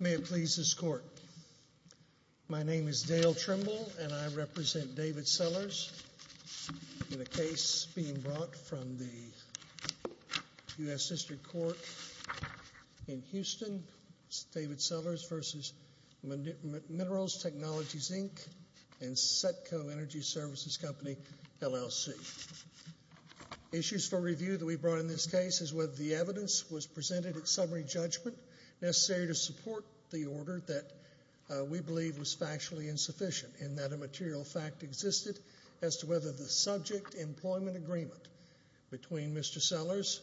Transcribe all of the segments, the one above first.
May it please this Court, my name is Dale Trimble and I represent David Sellers in a case being brought from the U.S. District Court in Houston, David Sellers v. Minerals Technologies, Inc., and Setco Energy Services Company, LLC. Issues for review that we brought in this case is whether the evidence was presented at summary judgment necessary to support the order that we believe was factually insufficient and that a material fact existed as to whether the subject employment agreement between Mr. Sellers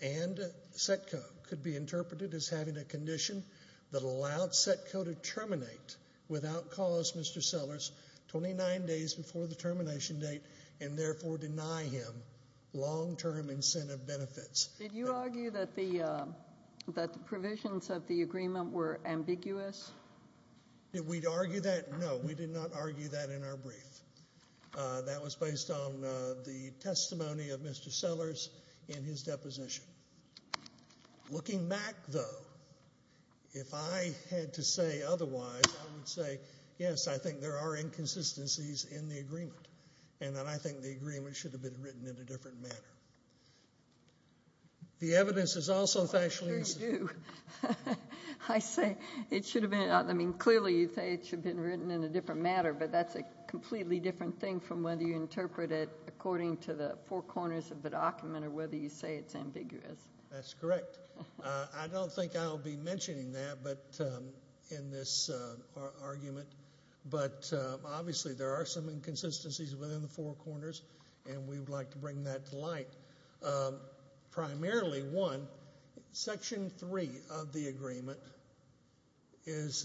and Setco could be interpreted as having a condition that allowed Setco to terminate without cause Mr. Sellers 29 days before the benefits. Did you argue that the provisions of the agreement were ambiguous? Did we argue that? No, we did not argue that in our brief. That was based on the testimony of Mr. Sellers in his deposition. Looking back though, if I had to say otherwise, I would say yes, I think there are inconsistencies in the agreement and that I think the agreement should have been written in a different manner. The evidence is also factually insufficient. I say it should have been, I mean clearly you say it should have been written in a different manner, but that's a completely different thing from whether you interpret it according to the four corners of the document or whether you say it's ambiguous. That's correct. I don't think I'll be mentioning that in this argument, but obviously there are some inconsistencies within the four corners and we would like to bring that to light. Primarily one, section three of the agreement is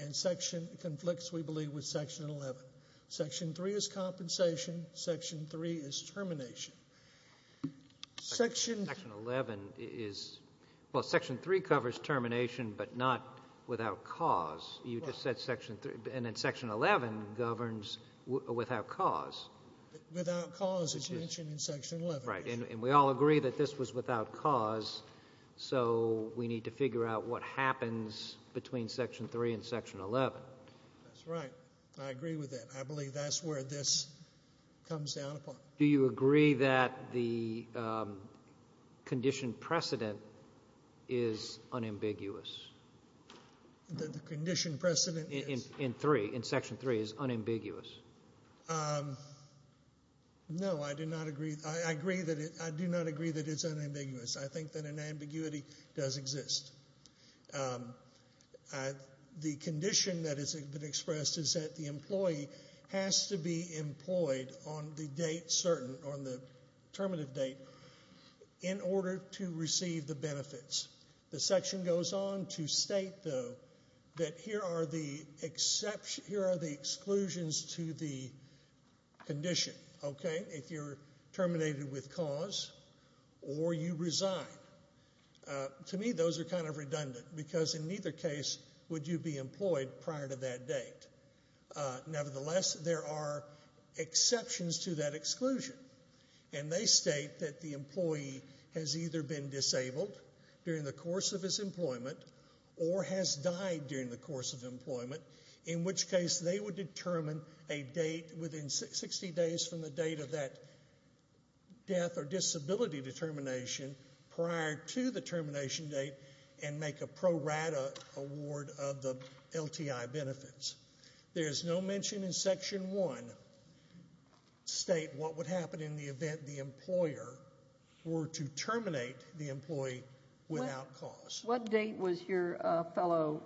in section, conflicts we believe with section 11. Section three is compensation, section three is termination. Section 11 is, well section three covers termination, but not without cause. You just said section three, and then section 11 governs without cause. Without cause is mentioned in section 11. Right, and we all agree that this was without cause, so we need to figure out what happens between section three and section 11. That's right. I agree with that. I believe that's where this comes down upon. Do you agree that the condition precedent is unambiguous? The condition precedent is? In three, in section three is unambiguous. No, I do not agree that it's unambiguous. I think that an ambiguity does exist. The condition that has been expressed is that the employee has to be employed on the date certain, on the terminative date, in order to receive the benefits. The section goes on to state, though, that here are the exceptions, here are the exclusions to the condition, okay, if you're terminated with cause or you resign. To me those are kind of redundant because in neither case would you be employed prior to that date. Nevertheless, there are exceptions to that exclusion, and they state that the employee has either been disabled during the course of his employment or has died during the course of employment, in which case they would determine a date within 60 days from the date of that death or disability determination prior to the termination date and make a pro rata award of the LTI benefits. There's no mention in section one to state what would happen in the event the employer were to terminate the employee without cause. What date was your fellow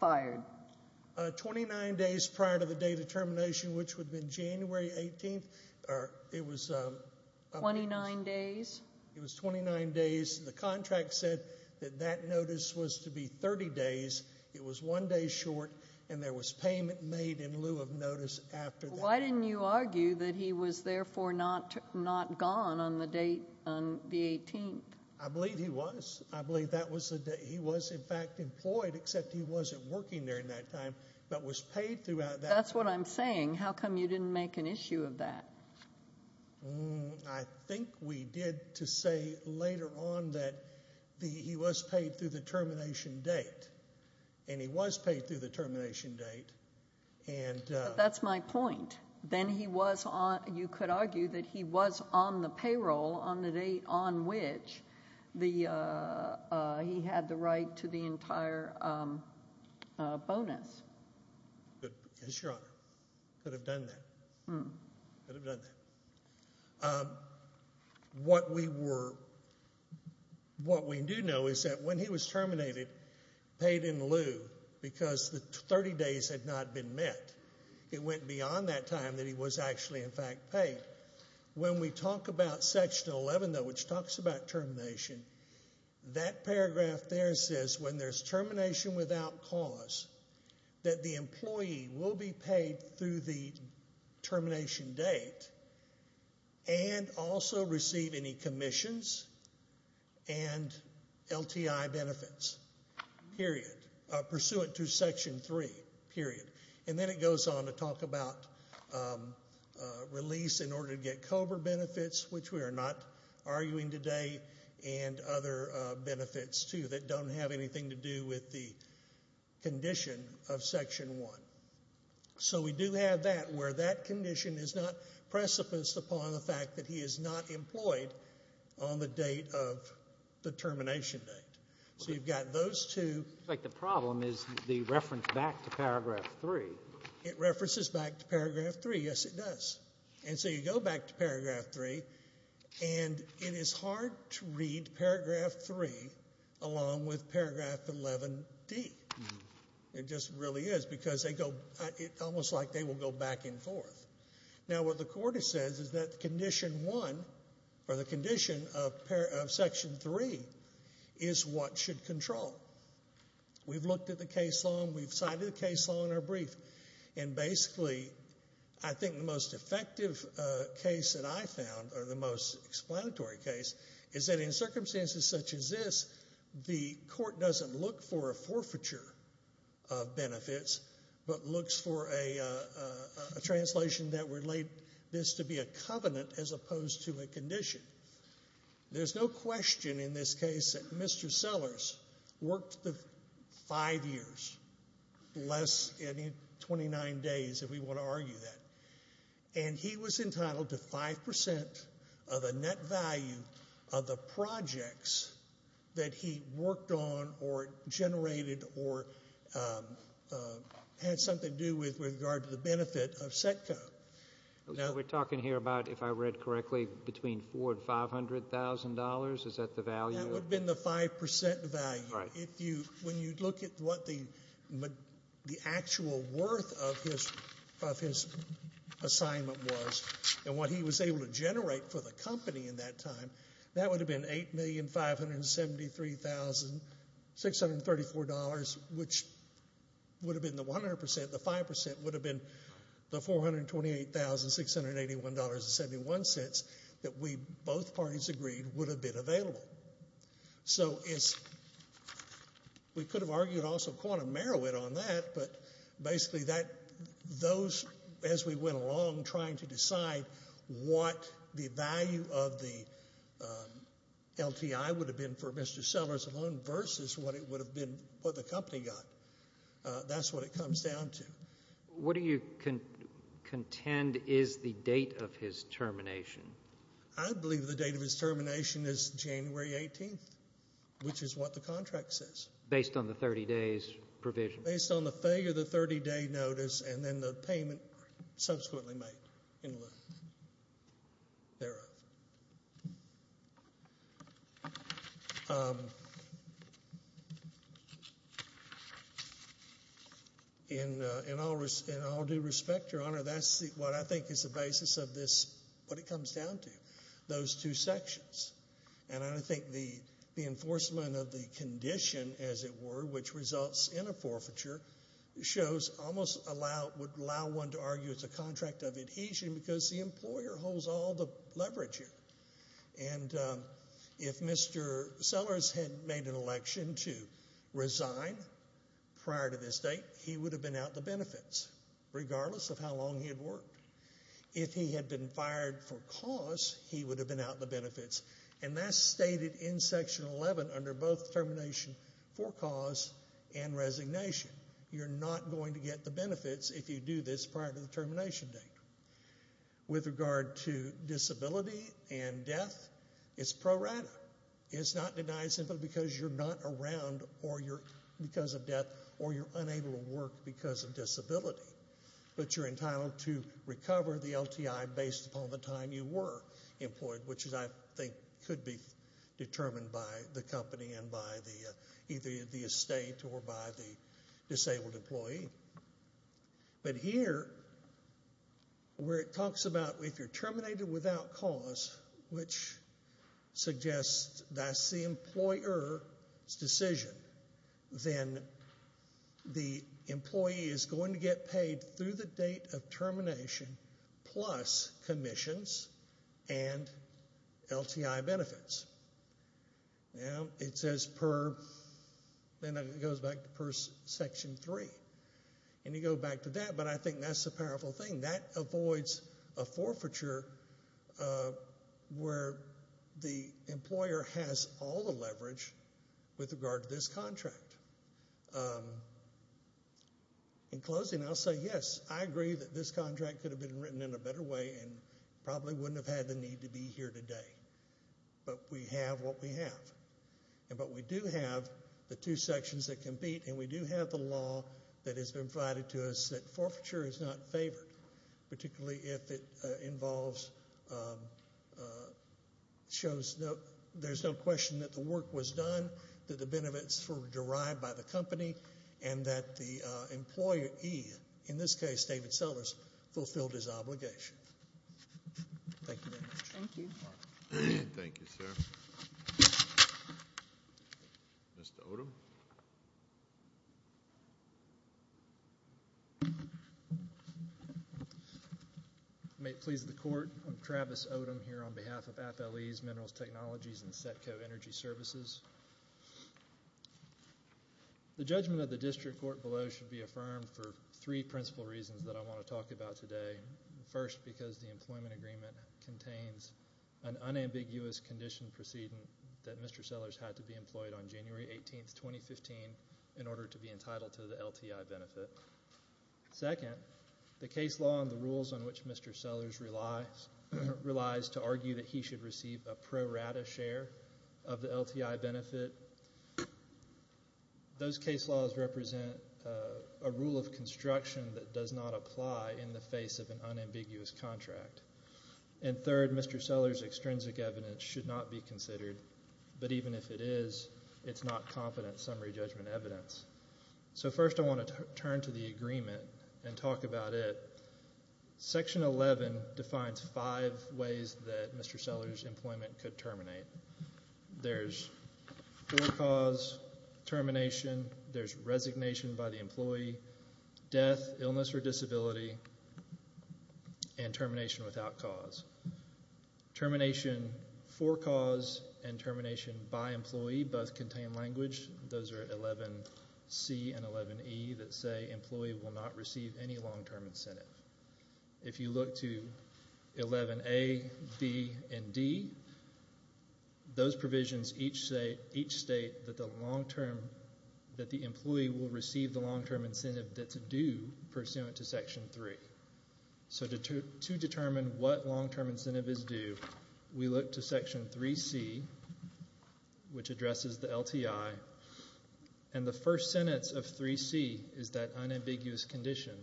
fired? 29 days prior to the date of termination, which would have been January 18th, or it was... 29 days? It was 29 days. The contract said that that notice was to be 30 days. It was one day short, and there was payment made in lieu of notice after that. Why didn't you argue that he was therefore not gone on the date, on the 18th? I believe he was. I believe that was the date. He was, in fact, employed, except he wasn't working during that time, but was paid throughout that... That's what I'm saying. How come you didn't make an issue of that? I think we did to say later on that he was paid through the termination date, and he was paid through the termination date, and... That's my point. Then he was... You could argue that he was on the payroll on the date on which he had the right to the entire bonus. Yes, Your Honor. Could have done that. Could have done that. What we do know is that when he was terminated, paid in lieu, because the 30 days had not been met, it went beyond that time that he was actually, in fact, paid. When we talk about Section 11, though, which talks about termination, that paragraph there says when there's termination without cause, that the employee will be paid through the termination date, and also receive any commissions and LTI benefits, period, pursuant to Section 3, period. Then it goes on to talk about release in order to get COBRA benefits, which we are not arguing today, and other benefits, too, that don't have anything to do with the condition of Section 1. We do have that, where that condition is not precipiced upon the fact that he is not employed on the date of the termination date. So you've got those two... It's like the problem is the reference back to paragraph 3. It references back to paragraph 3. Yes, it does. And so you go back to paragraph 3, and it is hard to read paragraph 3 along with paragraph 11d. It just really is, because it's almost like they will go back and forth. Now, what the Court has said is that Condition 1, or the condition of Section 3, is what should control. We've looked at the case law, we've cited the case law in our brief, and basically, I think the most effective case that I found, or the most explanatory case, is that in circumstances such as this, the Court looks for a translation that would relate this to be a covenant as opposed to a condition. There's no question in this case that Mr. Sellers worked five years, less than 29 days, if we want to argue that. And he was entitled to 5% of the net value of the projects that he worked on, or generated, or had something to do with with regard to the benefit of SECCO. We're talking here about, if I read correctly, between $400,000 and $500,000? Is that the value? That would have been the 5% value. When you look at what the actual worth of his assignment was, and what he was able to generate for the company in that time, that would have been $8,573,634, which would have been the 100%, the 5%, would have been the $428,681.71 that we both parties agreed would have been available. So we could have argued also quantum merit on that, but basically, those, as we went along trying to decide what the value of the LTI would have been for Mr. Sellers alone versus what it would have been for the company got, that's what it comes down to. What do you contend is the date of his termination? I believe the date of his termination is January 18th, which is what the contract says. Based on the 30 days provision? Based on the failure of the 30 day notice, and then the payment subsequently made in lieu thereof. In all due respect, Your Honor, that's what I think is the basis of what it comes down to, those two sections. I think the enforcement of the condition, as it were, which results in a forfeiture, shows almost allow, would allow one to argue it's a contract of adhesion because the employer holds all the leverage here. If Mr. Sellers had made an election to resign prior to this date, he would have been out the benefits, regardless of how long he had worked. If he had been fired for cause, he would have been out the benefits. That's stated in Section 11 under both termination for cause and resignation. You're not going to get the benefits if you do this prior to the termination date. With regard to disability and death, it's pro rata. It's not denied simply because you're not around or you're because of death or you're unable to work because of disability, but you're entitled to recover the LTI based upon the time you were employed, which I think could be determined by the company and by the estate or by the disabled employee. Here, where it talks about if you're terminated without cause, which suggests that's the employer's decision, then the employee is going to get termination plus commissions and LTI benefits. It goes back to Section 3. You go back to that, but I think that's a powerful thing. That avoids a forfeiture where the employer has all the leverage with regard to this contract. In closing, I'll say yes, I agree that this contract could have been written in a better way and probably wouldn't have had the need to be here today, but we have what we have. We do have the two sections that compete and we do have the law that has been provided to us that forfeiture is not favored, particularly if it involves, shows there's no question that the work was done, that the benefits were derived by the company, and that the employee, in this case, David Sellers, fulfilled his obligation. Thank you very much. Thank you. Thank you, sir. Mr. Odom. May it please the Court, I'm Travis Odom here on behalf of FLE's Minerals Technologies and Setco Energy Corporation. The judgment of the District Court below should be affirmed for three principal reasons that I want to talk about today. First, because the employment agreement contains an unambiguous condition proceeding that Mr. Sellers had to be employed on January 18, 2015, in order to be entitled to the LTI benefit. Second, the case law and the rules on which Mr. Sellers relies to argue that he should receive a pro rata share of the LTI benefit those case laws represent a rule of construction that does not apply in the face of an unambiguous contract. And third, Mr. Sellers' extrinsic evidence should not be considered, but even if it is, it's not competent summary judgment evidence. So first I want to turn to the agreement and talk about it. Section 11 defines five ways that Mr. Sellers' employment could terminate. There's for-cause, termination, there's resignation by the employee, death, illness or disability, and termination without cause. Termination for-cause and termination by employee both contain language. Those are 11C and 11E that say employee will not receive any long-term incentive. If you look to 11A, B, and D, those provisions each state that the long-term, that the employee will receive the long-term incentive that's due pursuant to Section 3. So to determine what long-term incentive is due, we look to Section 3C, which addresses the LTI, and the first sentence of 3C is that unambiguous condition.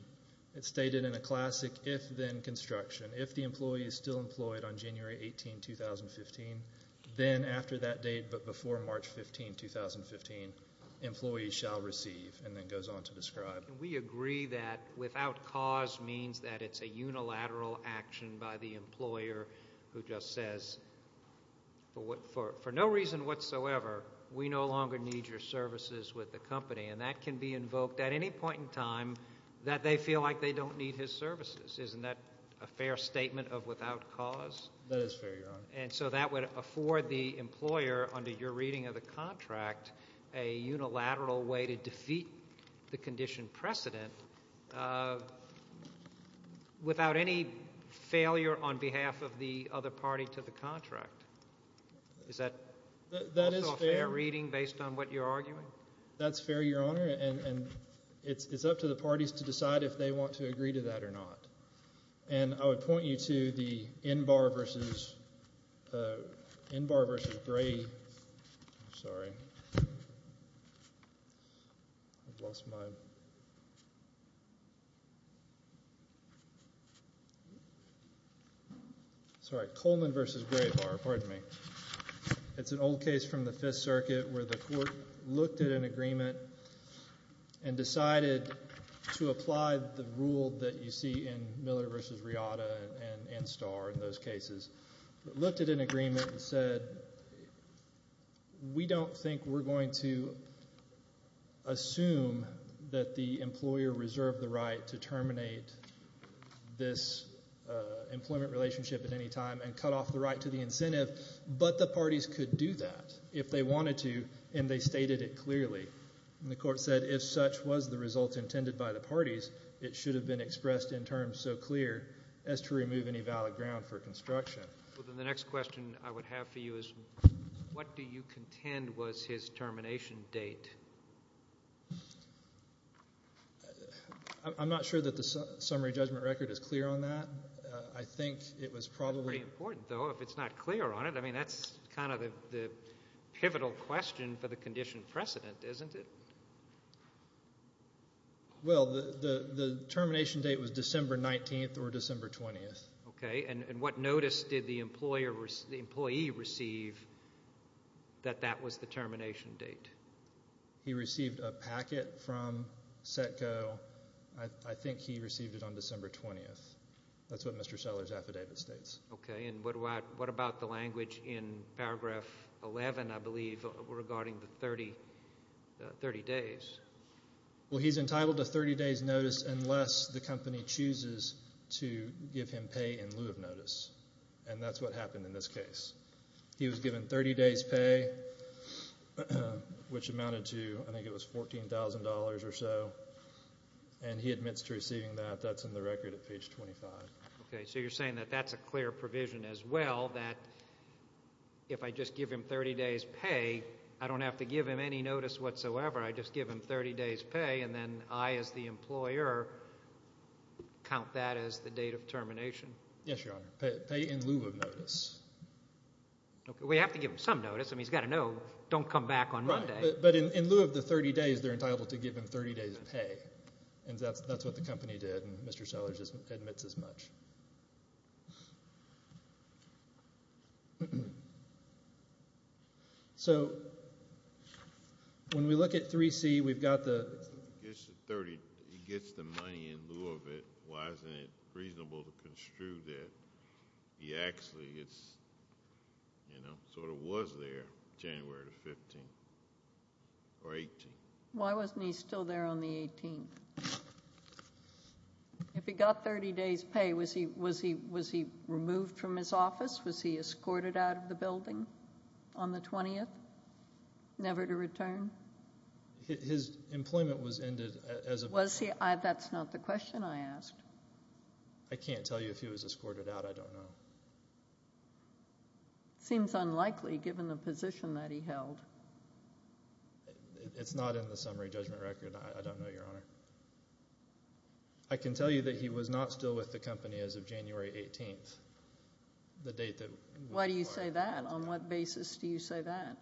It's stated in a classic if-then construction. If the employee is still employed on January 18, 2015, then after that date but before March 15, 2015, employee shall receive and then goes on to describe. We agree that without cause means that it's a unilateral action by the employer who just says for no reason whatsoever we no longer need your services with the company. And that can be invoked at any point in time that they feel like they don't need his services. Isn't that a fair statement of without cause? That is fair, Your Honor. And so that would afford the employer under your reading of the contract a unilateral way to defeat the condition precedent without any failure on behalf of the other party to the contract. Is that also a fair reading based on what you're arguing? That's fair, Your Honor, and it's up to the parties to decide if they want to agree to that or not. And I would point you to the NBAR versus Gray, sorry, I've lost my, sorry, Coleman versus Gray bar, pardon me. It's an old case from the Fifth Circuit where the court looked at an agreement and decided to apply the rule that you see in Miller versus Riata and Starr in those cases. It looked at an agreement and said, we don't think we're going to assume that the employer reserved the right to terminate this employment relationship at any time and cut off the right to the incentive, but the parties could do that if they wanted to, and they stated it clearly. And the court said if such was the result intended by the parties, it should have been expressed in terms so the question I would have for you is, what do you contend was his termination date? I'm not sure that the summary judgment record is clear on that. I think it was probably important, though, if it's not clear on it. I mean, that's kind of the pivotal question for the condition precedent, isn't it? Well, the termination date was December 19th or did he receive that that was the termination date? He received a packet from Setco. I think he received it on December 20th. That's what Mr. Seller's affidavit states. Okay, and what about the language in paragraph 11, I believe, regarding the 30 days? Well, he's entitled to 30 days' notice unless the company chooses to give him pay in lieu of notice, and that's what happened in this case. He was given 30 days' pay, which amounted to, I think it was $14,000 or so, and he admits to receiving that. That's in the record at page 25. Okay, so you're saying that that's a clear provision as well, that if I just give him 30 days' pay, I don't have to give him any notice whatsoever. I just give him 30 days' pay, and then I as the employer count that as the date of termination? Yes, Your Honor, pay in lieu of notice. Okay, we have to give him some notice. I mean, he's got to know, don't come back on Monday. Right, but in lieu of the 30 days, they're entitled to give him 30 days' pay, and that's what the company did, and Mr. Seller just admits as much. So when we look at 3C, we've got the 30, he gets the money in lieu of it. Why isn't it reasonable to construe that he actually gets, you know, sort of was there January the 15th or 18th? Why wasn't he still there on the 18th? If he got 30 days' pay, was he removed from his office? Was he escorted out of the building on the 20th, never to return? His employment was ended as a... Was he? That's not the question I asked. I can't tell you if he was escorted out. I don't know. It seems unlikely given the position that he held. It's not in the summary judgment record. I don't know, Your Honor. I can tell you that he was not still with the company as of January 18th, the date that... Why do you say that? On what basis do you say that?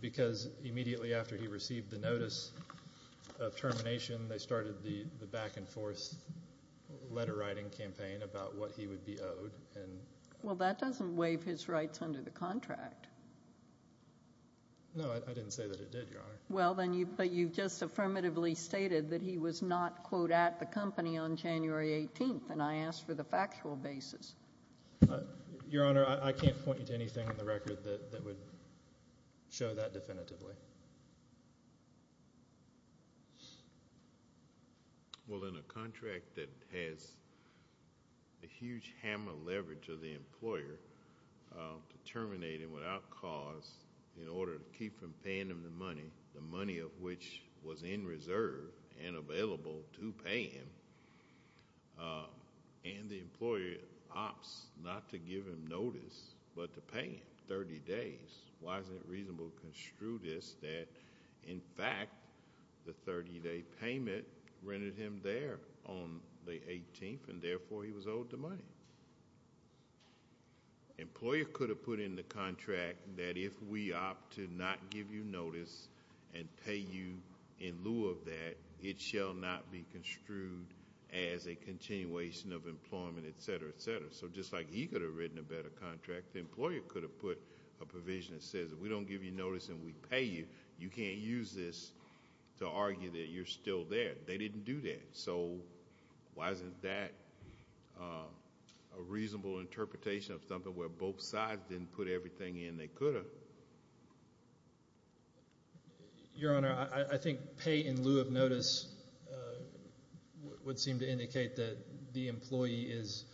Because immediately after he received the notice of termination, they started the back and forth letter writing campaign about what he would be owed. Well, that doesn't waive his rights under the contract. No, I didn't say that it did, Your Honor. Well, then you... But you've just affirmatively stated that he was not, quote, at the company on January 18th, and I asked for the factual basis. Your Honor, I can't point you to anything in the record that would show that definitively. Well, in a contract that has a huge hammer leverage of the employer to terminate him without cause in order to keep from paying him the money, the money of which was in reserve and available to pay him, and the employer opts not to give him notice but to pay him 30 days. Why is it reasonable to construe this that, in fact, the 30-day payment rendered him there on the 18th, and therefore he was owed the money? Employer could have put in the contract that if we opt to not give you notice and pay you in lieu of that, it shall not be construed as a continuation of employment, et cetera, et cetera. Just like he could have written a better contract, the employer could have put a provision that says, if we don't give you notice and we pay you, you can't use this to argue that you're still there. They didn't do that. Why isn't that a reasonable interpretation of something where both sides didn't put everything in they could have? Your Honor, I think pay in lieu of notice would seem to indicate that the employee is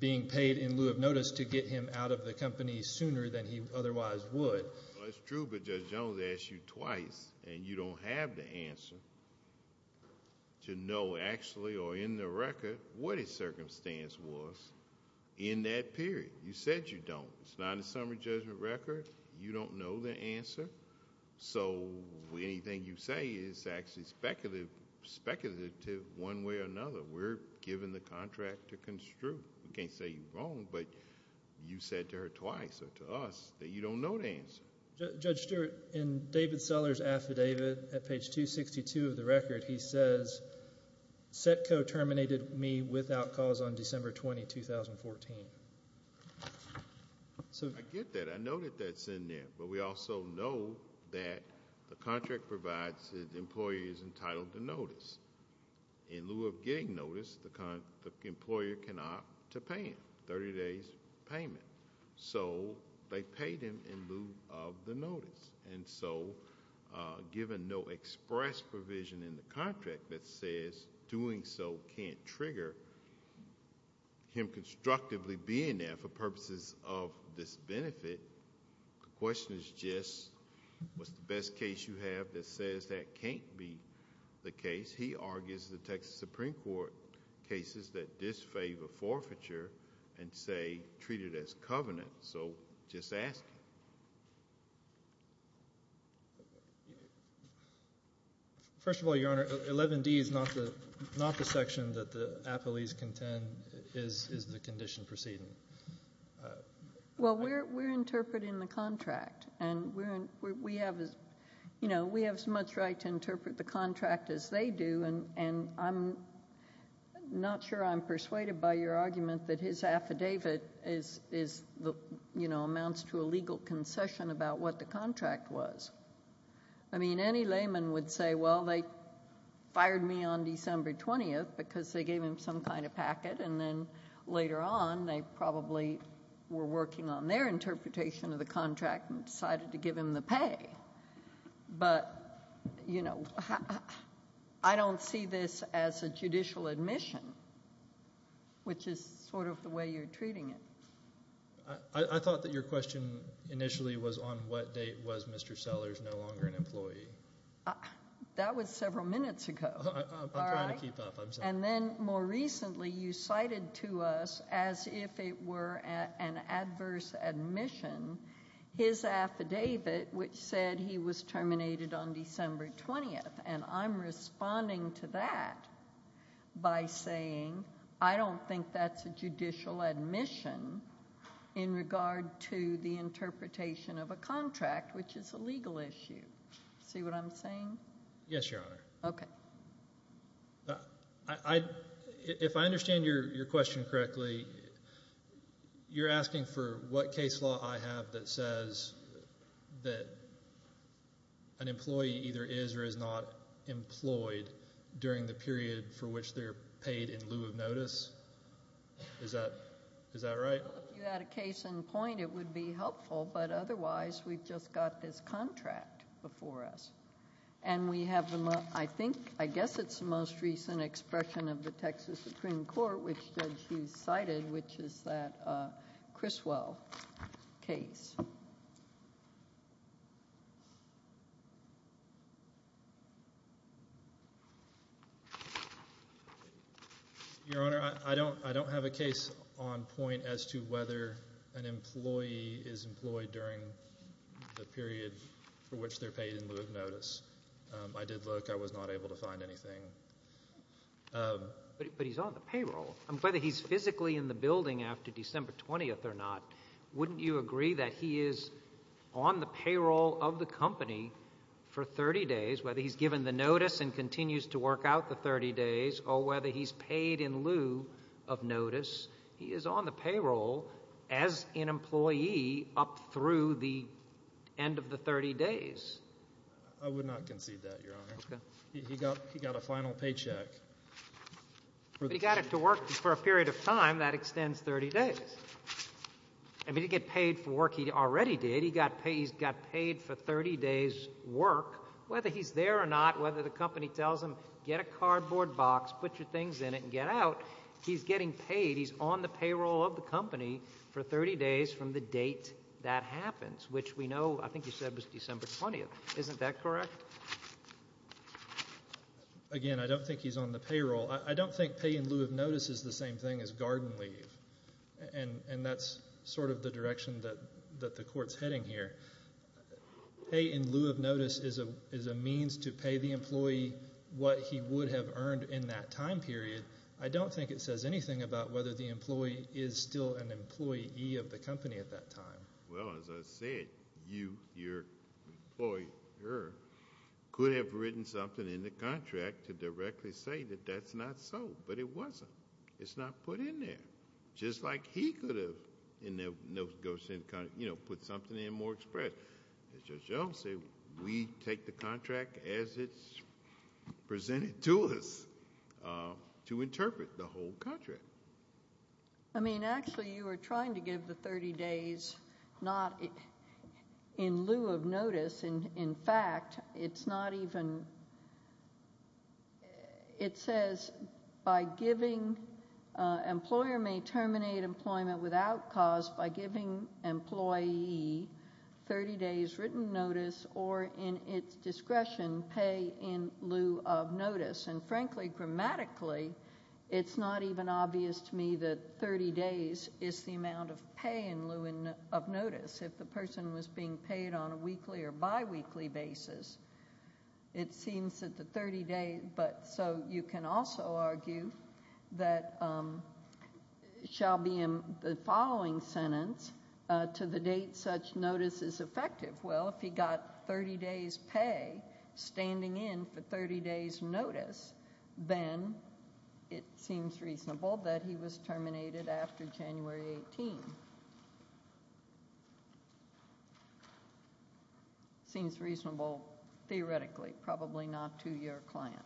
being paid in lieu of notice to get him out of the company sooner than he otherwise would. Well, it's true, but Judge Jones asked you twice, and you don't have the answer to know the answer. It's not a summary judgment record. You don't know the answer, so anything you say is actually speculative one way or another. We're given the contract to construe. We can't say you're wrong, but you said to her twice or to us that you don't know the answer. Judge Stewart, in David Sellers' affidavit at page 262 of the record, he says, Setco terminated me without cause on December 20, 2014. I get that. I know that that's in there, but we also know that the contract provides that the employee is entitled to notice. In lieu of getting notice, the employer can opt to pay him a 30-day payment, so they pay them in lieu of the notice. Given no express provision in the contract that says doing so can't trigger him constructively being there for purposes of disbenefit, the question is just, what's the best case you have that says that can't be the case? He argues the Texas Supreme Court cases that disfavor forfeiture and say treat it as covenant, so just ask him. First of all, Your Honor, 11D is not the section that the appellees contend is the condition preceding. Well, we're interpreting the contract, and we have as much right to interpret the contract as they do, and I'm not sure I'm persuaded by your argument that his affidavit amounts to a legal concession about what the contract was. I mean, any layman would say, well, they fired me on December 20th because they gave him some kind of packet, and then later on they probably were working on their interpretation of the contract and decided to give him the pay, but I don't see this as a judicial admission, which is sort of the way you're treating it. I thought that your question initially was on what date was Mr. Sellers no longer an employee. That was several minutes ago. I'm trying to keep up. And then more recently you cited to us as if it were an adverse admission his affidavit which said he was terminated on December 20th, and I'm responding to that by saying I don't think that's a judicial admission in regard to the interpretation of a contract, which is a legal issue. See what I'm saying? Yes, Your Honor. Okay. If I understand your question correctly, you're asking for what case law I have that says that an employee either is or is not employed during the period for which they're paid in Texas? Is that right? If you had a case in point, it would be helpful, but otherwise we've just got this contract before us, and we have the most, I think, I guess it's the most recent expression of the Texas Supreme Court, which Judge Hughes cited, which is that Criswell case. Your Honor, I don't have a case on point as to whether an employee is employed during the period for which they're paid in lieu of notice. I did look. I was not able to find anything. But he's on the payroll. Whether he's physically in the building after December 20th or not, wouldn't you agree that he is on the payroll of the company for 30 days, whether he's given the notice and continues to work out the 30 days, or whether he's paid in lieu of notice, he is on the payroll as an employee up through the end of the 30 days? I would not concede that, Your Honor. Okay. He got a final paycheck. But he got to work for a period of time that extends 30 days. I mean, he didn't get paid for work he already did. He got paid for 30 days' work. Whether he's there or not, whether the company tells him, get a cardboard box, put your things in it, and get out, he's getting paid. He's on the payroll of the company for 30 days from the date that happens, which we know, I think you said, was December 20th. Isn't that correct? Again, I don't think he's on the payroll. I don't think pay in lieu of notice is the same thing as garden leave, and that's sort of the direction that the court's heading here. Pay in lieu of notice is a means to pay the employee what he would have earned in that time period. I don't think it says anything about whether the employee is still an employee of the company at that time. Well, as I said, you, your employer, could have written something in the contract to directly say that that's not so, but it wasn't. It's not put in there. Just like he could have, you know, put something in more express. As Judge Jones said, we take the contract as it's presented to us to interpret the whole contract. I mean, actually you were trying to give the 30 days not in lieu of notice. In fact, it's not even, it says by giving, employer may terminate employment without cause by giving employee 30 days written notice or in its discretion, pay in lieu of notice. And frankly, grammatically, it's not even obvious to me that 30 days is the amount of pay in lieu of notice. If the person was being paid on a weekly or biweekly basis, it seems that the 30 days, but so you can also argue that shall be in the following sentence to the date such notice is effective. Well, if he got 30 days pay standing in for 30 days notice, then it seems reasonable that he was terminated after January 18. Seems reasonable theoretically, probably not to your client.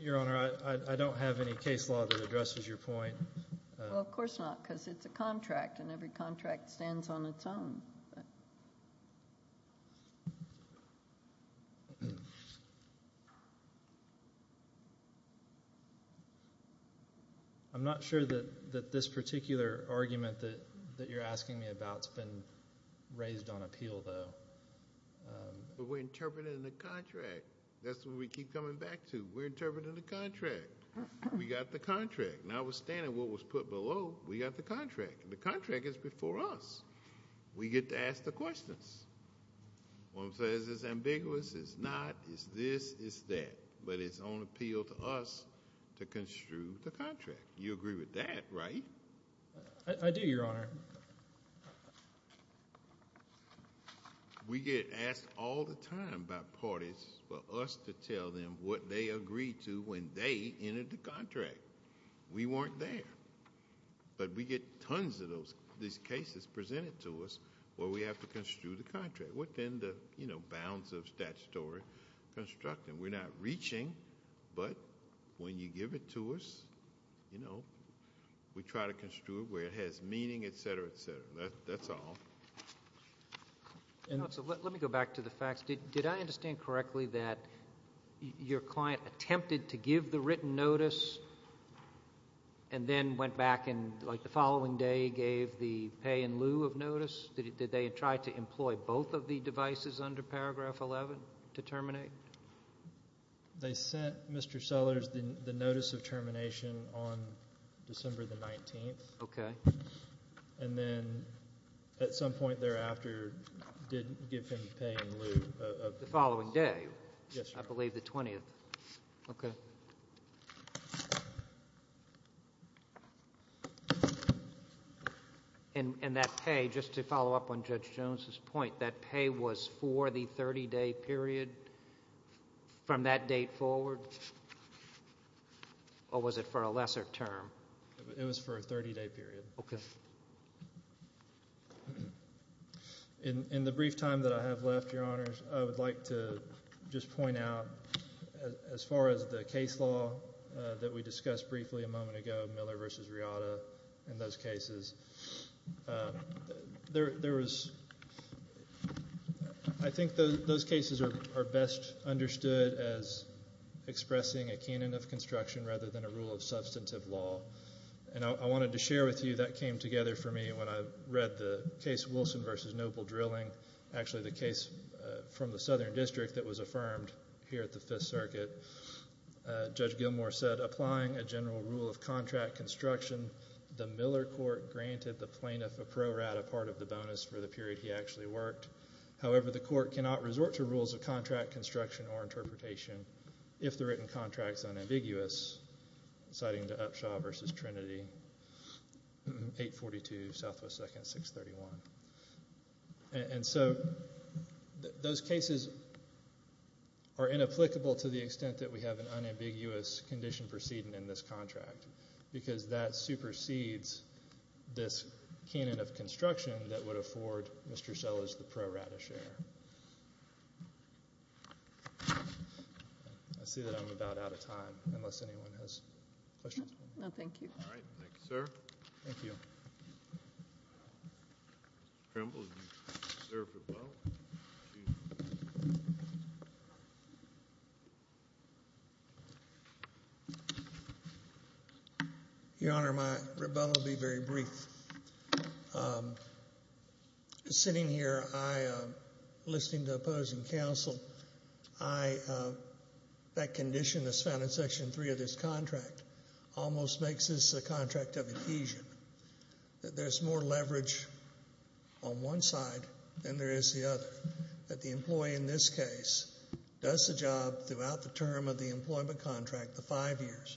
Your Honor, I don't have any case law that addresses your point. Well, of course not, because it's a contract and every contract stands on its own. I'm not sure that this particular argument that you're asking me about has been raised on appeal, though. But we're interpreting the contract. That's what we keep coming back to. We're interpreting the contract. We got the contract. Notwithstanding what was put below, we got the contract. The contract is before us. We get to ask the questions. One says it's ambiguous, it's not, it's this, it's that. But it's on appeal to us to construe the contract. You agree with that, right? I do, Your Honor. We get asked all the time by parties for us to tell them what they agreed to when they entered the contract. We weren't there. But we get tons of these cases presented to us where we have to construe the contract within the bounds of statutory construction. We're not reaching, but when you give it to us, we try to construe it where it has meaning, et cetera, et cetera. That's all. Let me go back to the facts. Did I understand correctly that your client attempted to give the written notice and then went back and the following day gave the pay in lieu of They sent Mr. Sellers the notice of termination on December the 19th. Okay. And then at some point thereafter did give him the pay in lieu of The following day. Yes, Your Honor. I believe the 20th. Okay. And that pay, just to follow up on Judge Jones's point, that pay was for the 30-day period from that date forward? Or was it for a lesser term? It was for a 30-day period. Okay. In the brief time that I have left, Your Honors, I would like to just point out as far as the case law that we discussed briefly a moment ago, Miller v. Riata and those cases. There was, I think those cases are best understood as expressing a canon of construction rather than a rule of substantive law. And I wanted to share with you, that came together for me when I read the case Wilson v. Noble Drilling, actually the case from the Southern District that was affirmed here at the Fifth Circuit. Judge Gilmore said, applying a general rule of contract construction, the Miller court granted the plaintiff a pro rata part of the bonus for the period he actually worked. However, the court cannot resort to rules of contract construction or interpretation if the written contract is unambiguous, citing to Upshaw v. Trinity, 842 Southwest 2nd, 631. And so, those cases are inapplicable to the extent that we have an unambiguous condition proceeding in this contract, because that supersedes this canon of construction that would afford Mr. Sellers the pro rata share. I see that I'm about out of time, unless anyone has questions. No, thank you. All right, thank you, sir. Thank you. Trimble, will you serve rebuttal? Your Honor, my rebuttal will be very brief. Sitting here, I, listening to opposing counsel, I, that condition that's found in Section 1 on one side, then there is the other, that the employee in this case does the job throughout the term of the employment contract, the five years.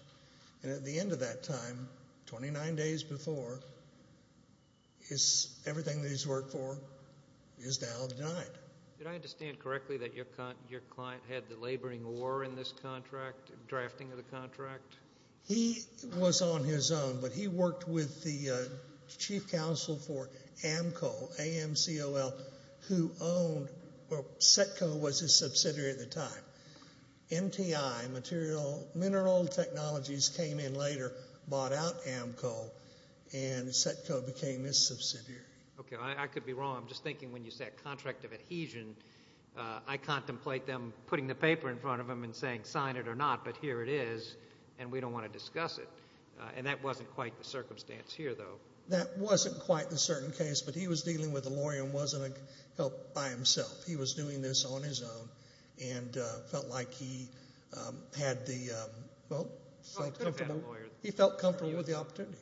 And at the end of that time, 29 days before, everything that he's worked for is now denied. Did I understand correctly that your client had the laboring war in this contract, drafting of the contract? He was on his own, but he worked with the chief counsel for AMCOL, A-M-C-O-L, who owned, well, Setco was his subsidiary at the time. MTI, Mineral Technologies, came in later, bought out AMCOL, and Setco became his subsidiary. Okay, I could be wrong. I'm just thinking when you say a contract of adhesion, I contemplate them putting the paper in front of him and saying sign it or not, but here it is, and we don't want to discuss it. And that wasn't quite the circumstance here, though. That wasn't quite the certain case, but he was dealing with a lawyer and wasn't helped by himself. He was doing this on his own and felt like he had the, well, he felt comfortable with the opportunity.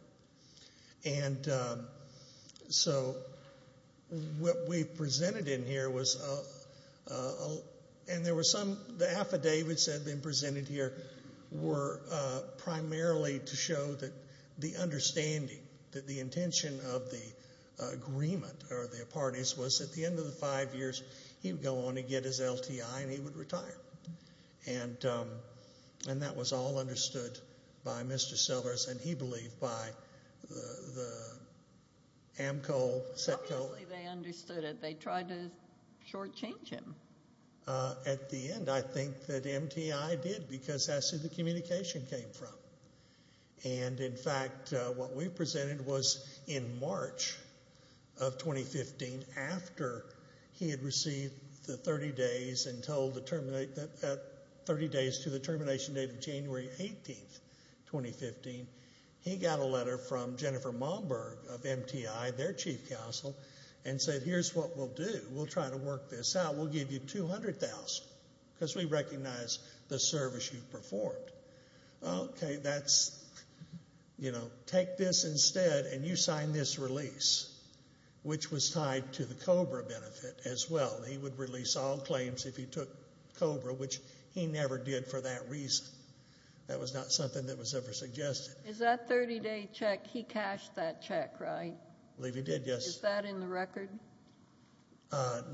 And so what we presented in here was, and there were some, the affidavits that had been presented here were primarily to show that the understanding, that the intention of the agreement or the parties was at the end of the five years, he would go on and get his LTI and he would retire. And that was all understood by Mr. Sellers and he believed by the AMCOL, Setco. Obviously they understood it. They tried to shortchange him. At the end, I think that MTI did because that's who the communication came from. And in fact, what we presented was in March of 2015, after he had received the 30 days until the terminate, 30 days to the termination date of January 18th, 2015, he got a letter from Jennifer Momberg of MTI, their chief counsel, and said here's what we'll do. We'll try to work this out. We'll give you $200,000 because we recognize the service you've performed. Okay, that's, you know, take this instead and you sign this release, which was tied to the COBRA benefit as well. He would release all claims if he took COBRA, which he never did for that reason. That was not something that was ever suggested. Is that 30 day check, he cashed that check, right? I believe he did, yes. Is that in the record?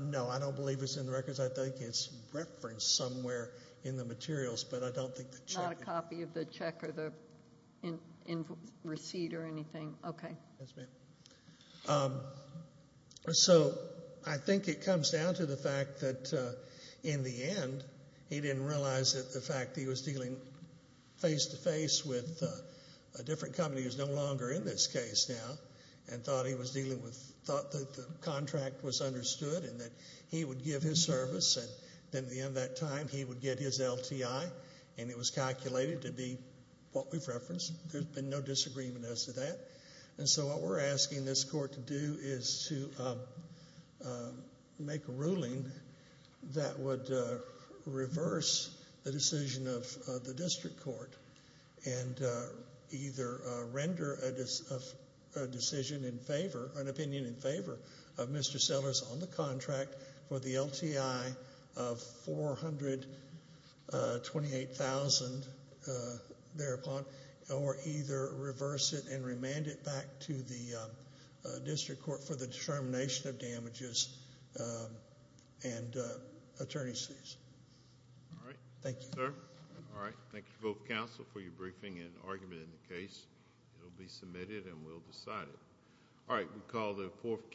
No, I don't believe it's in the records. I think it's referenced somewhere in the materials, but I don't think the check is. Not a copy of the check or the receipt or anything? Okay. Yes, ma'am. So I think it comes down to the fact that in the end, he didn't realize that the fact that he was dealing face to face with a different company who's no longer in this case now, and thought he was dealing with, thought that the contract was understood and that he would give his service and then at the end of that time he would get his LTI and it was calculated to be what we've referenced. There's been no disagreement as to that. And so what we're asking this court to do is to make a ruling that would reverse the decision of the district court and either render a decision in favor, an opinion in favor of the contract for the LTI of $428,000 thereupon, or either reverse it and remand it back to the district court for the determination of damages and attorney's fees. All right. Thank you, sir. All right. Thank you to both counsel for your briefing and argument in the case. It'll be submitted and we'll decide it. All right. We call the fourth case.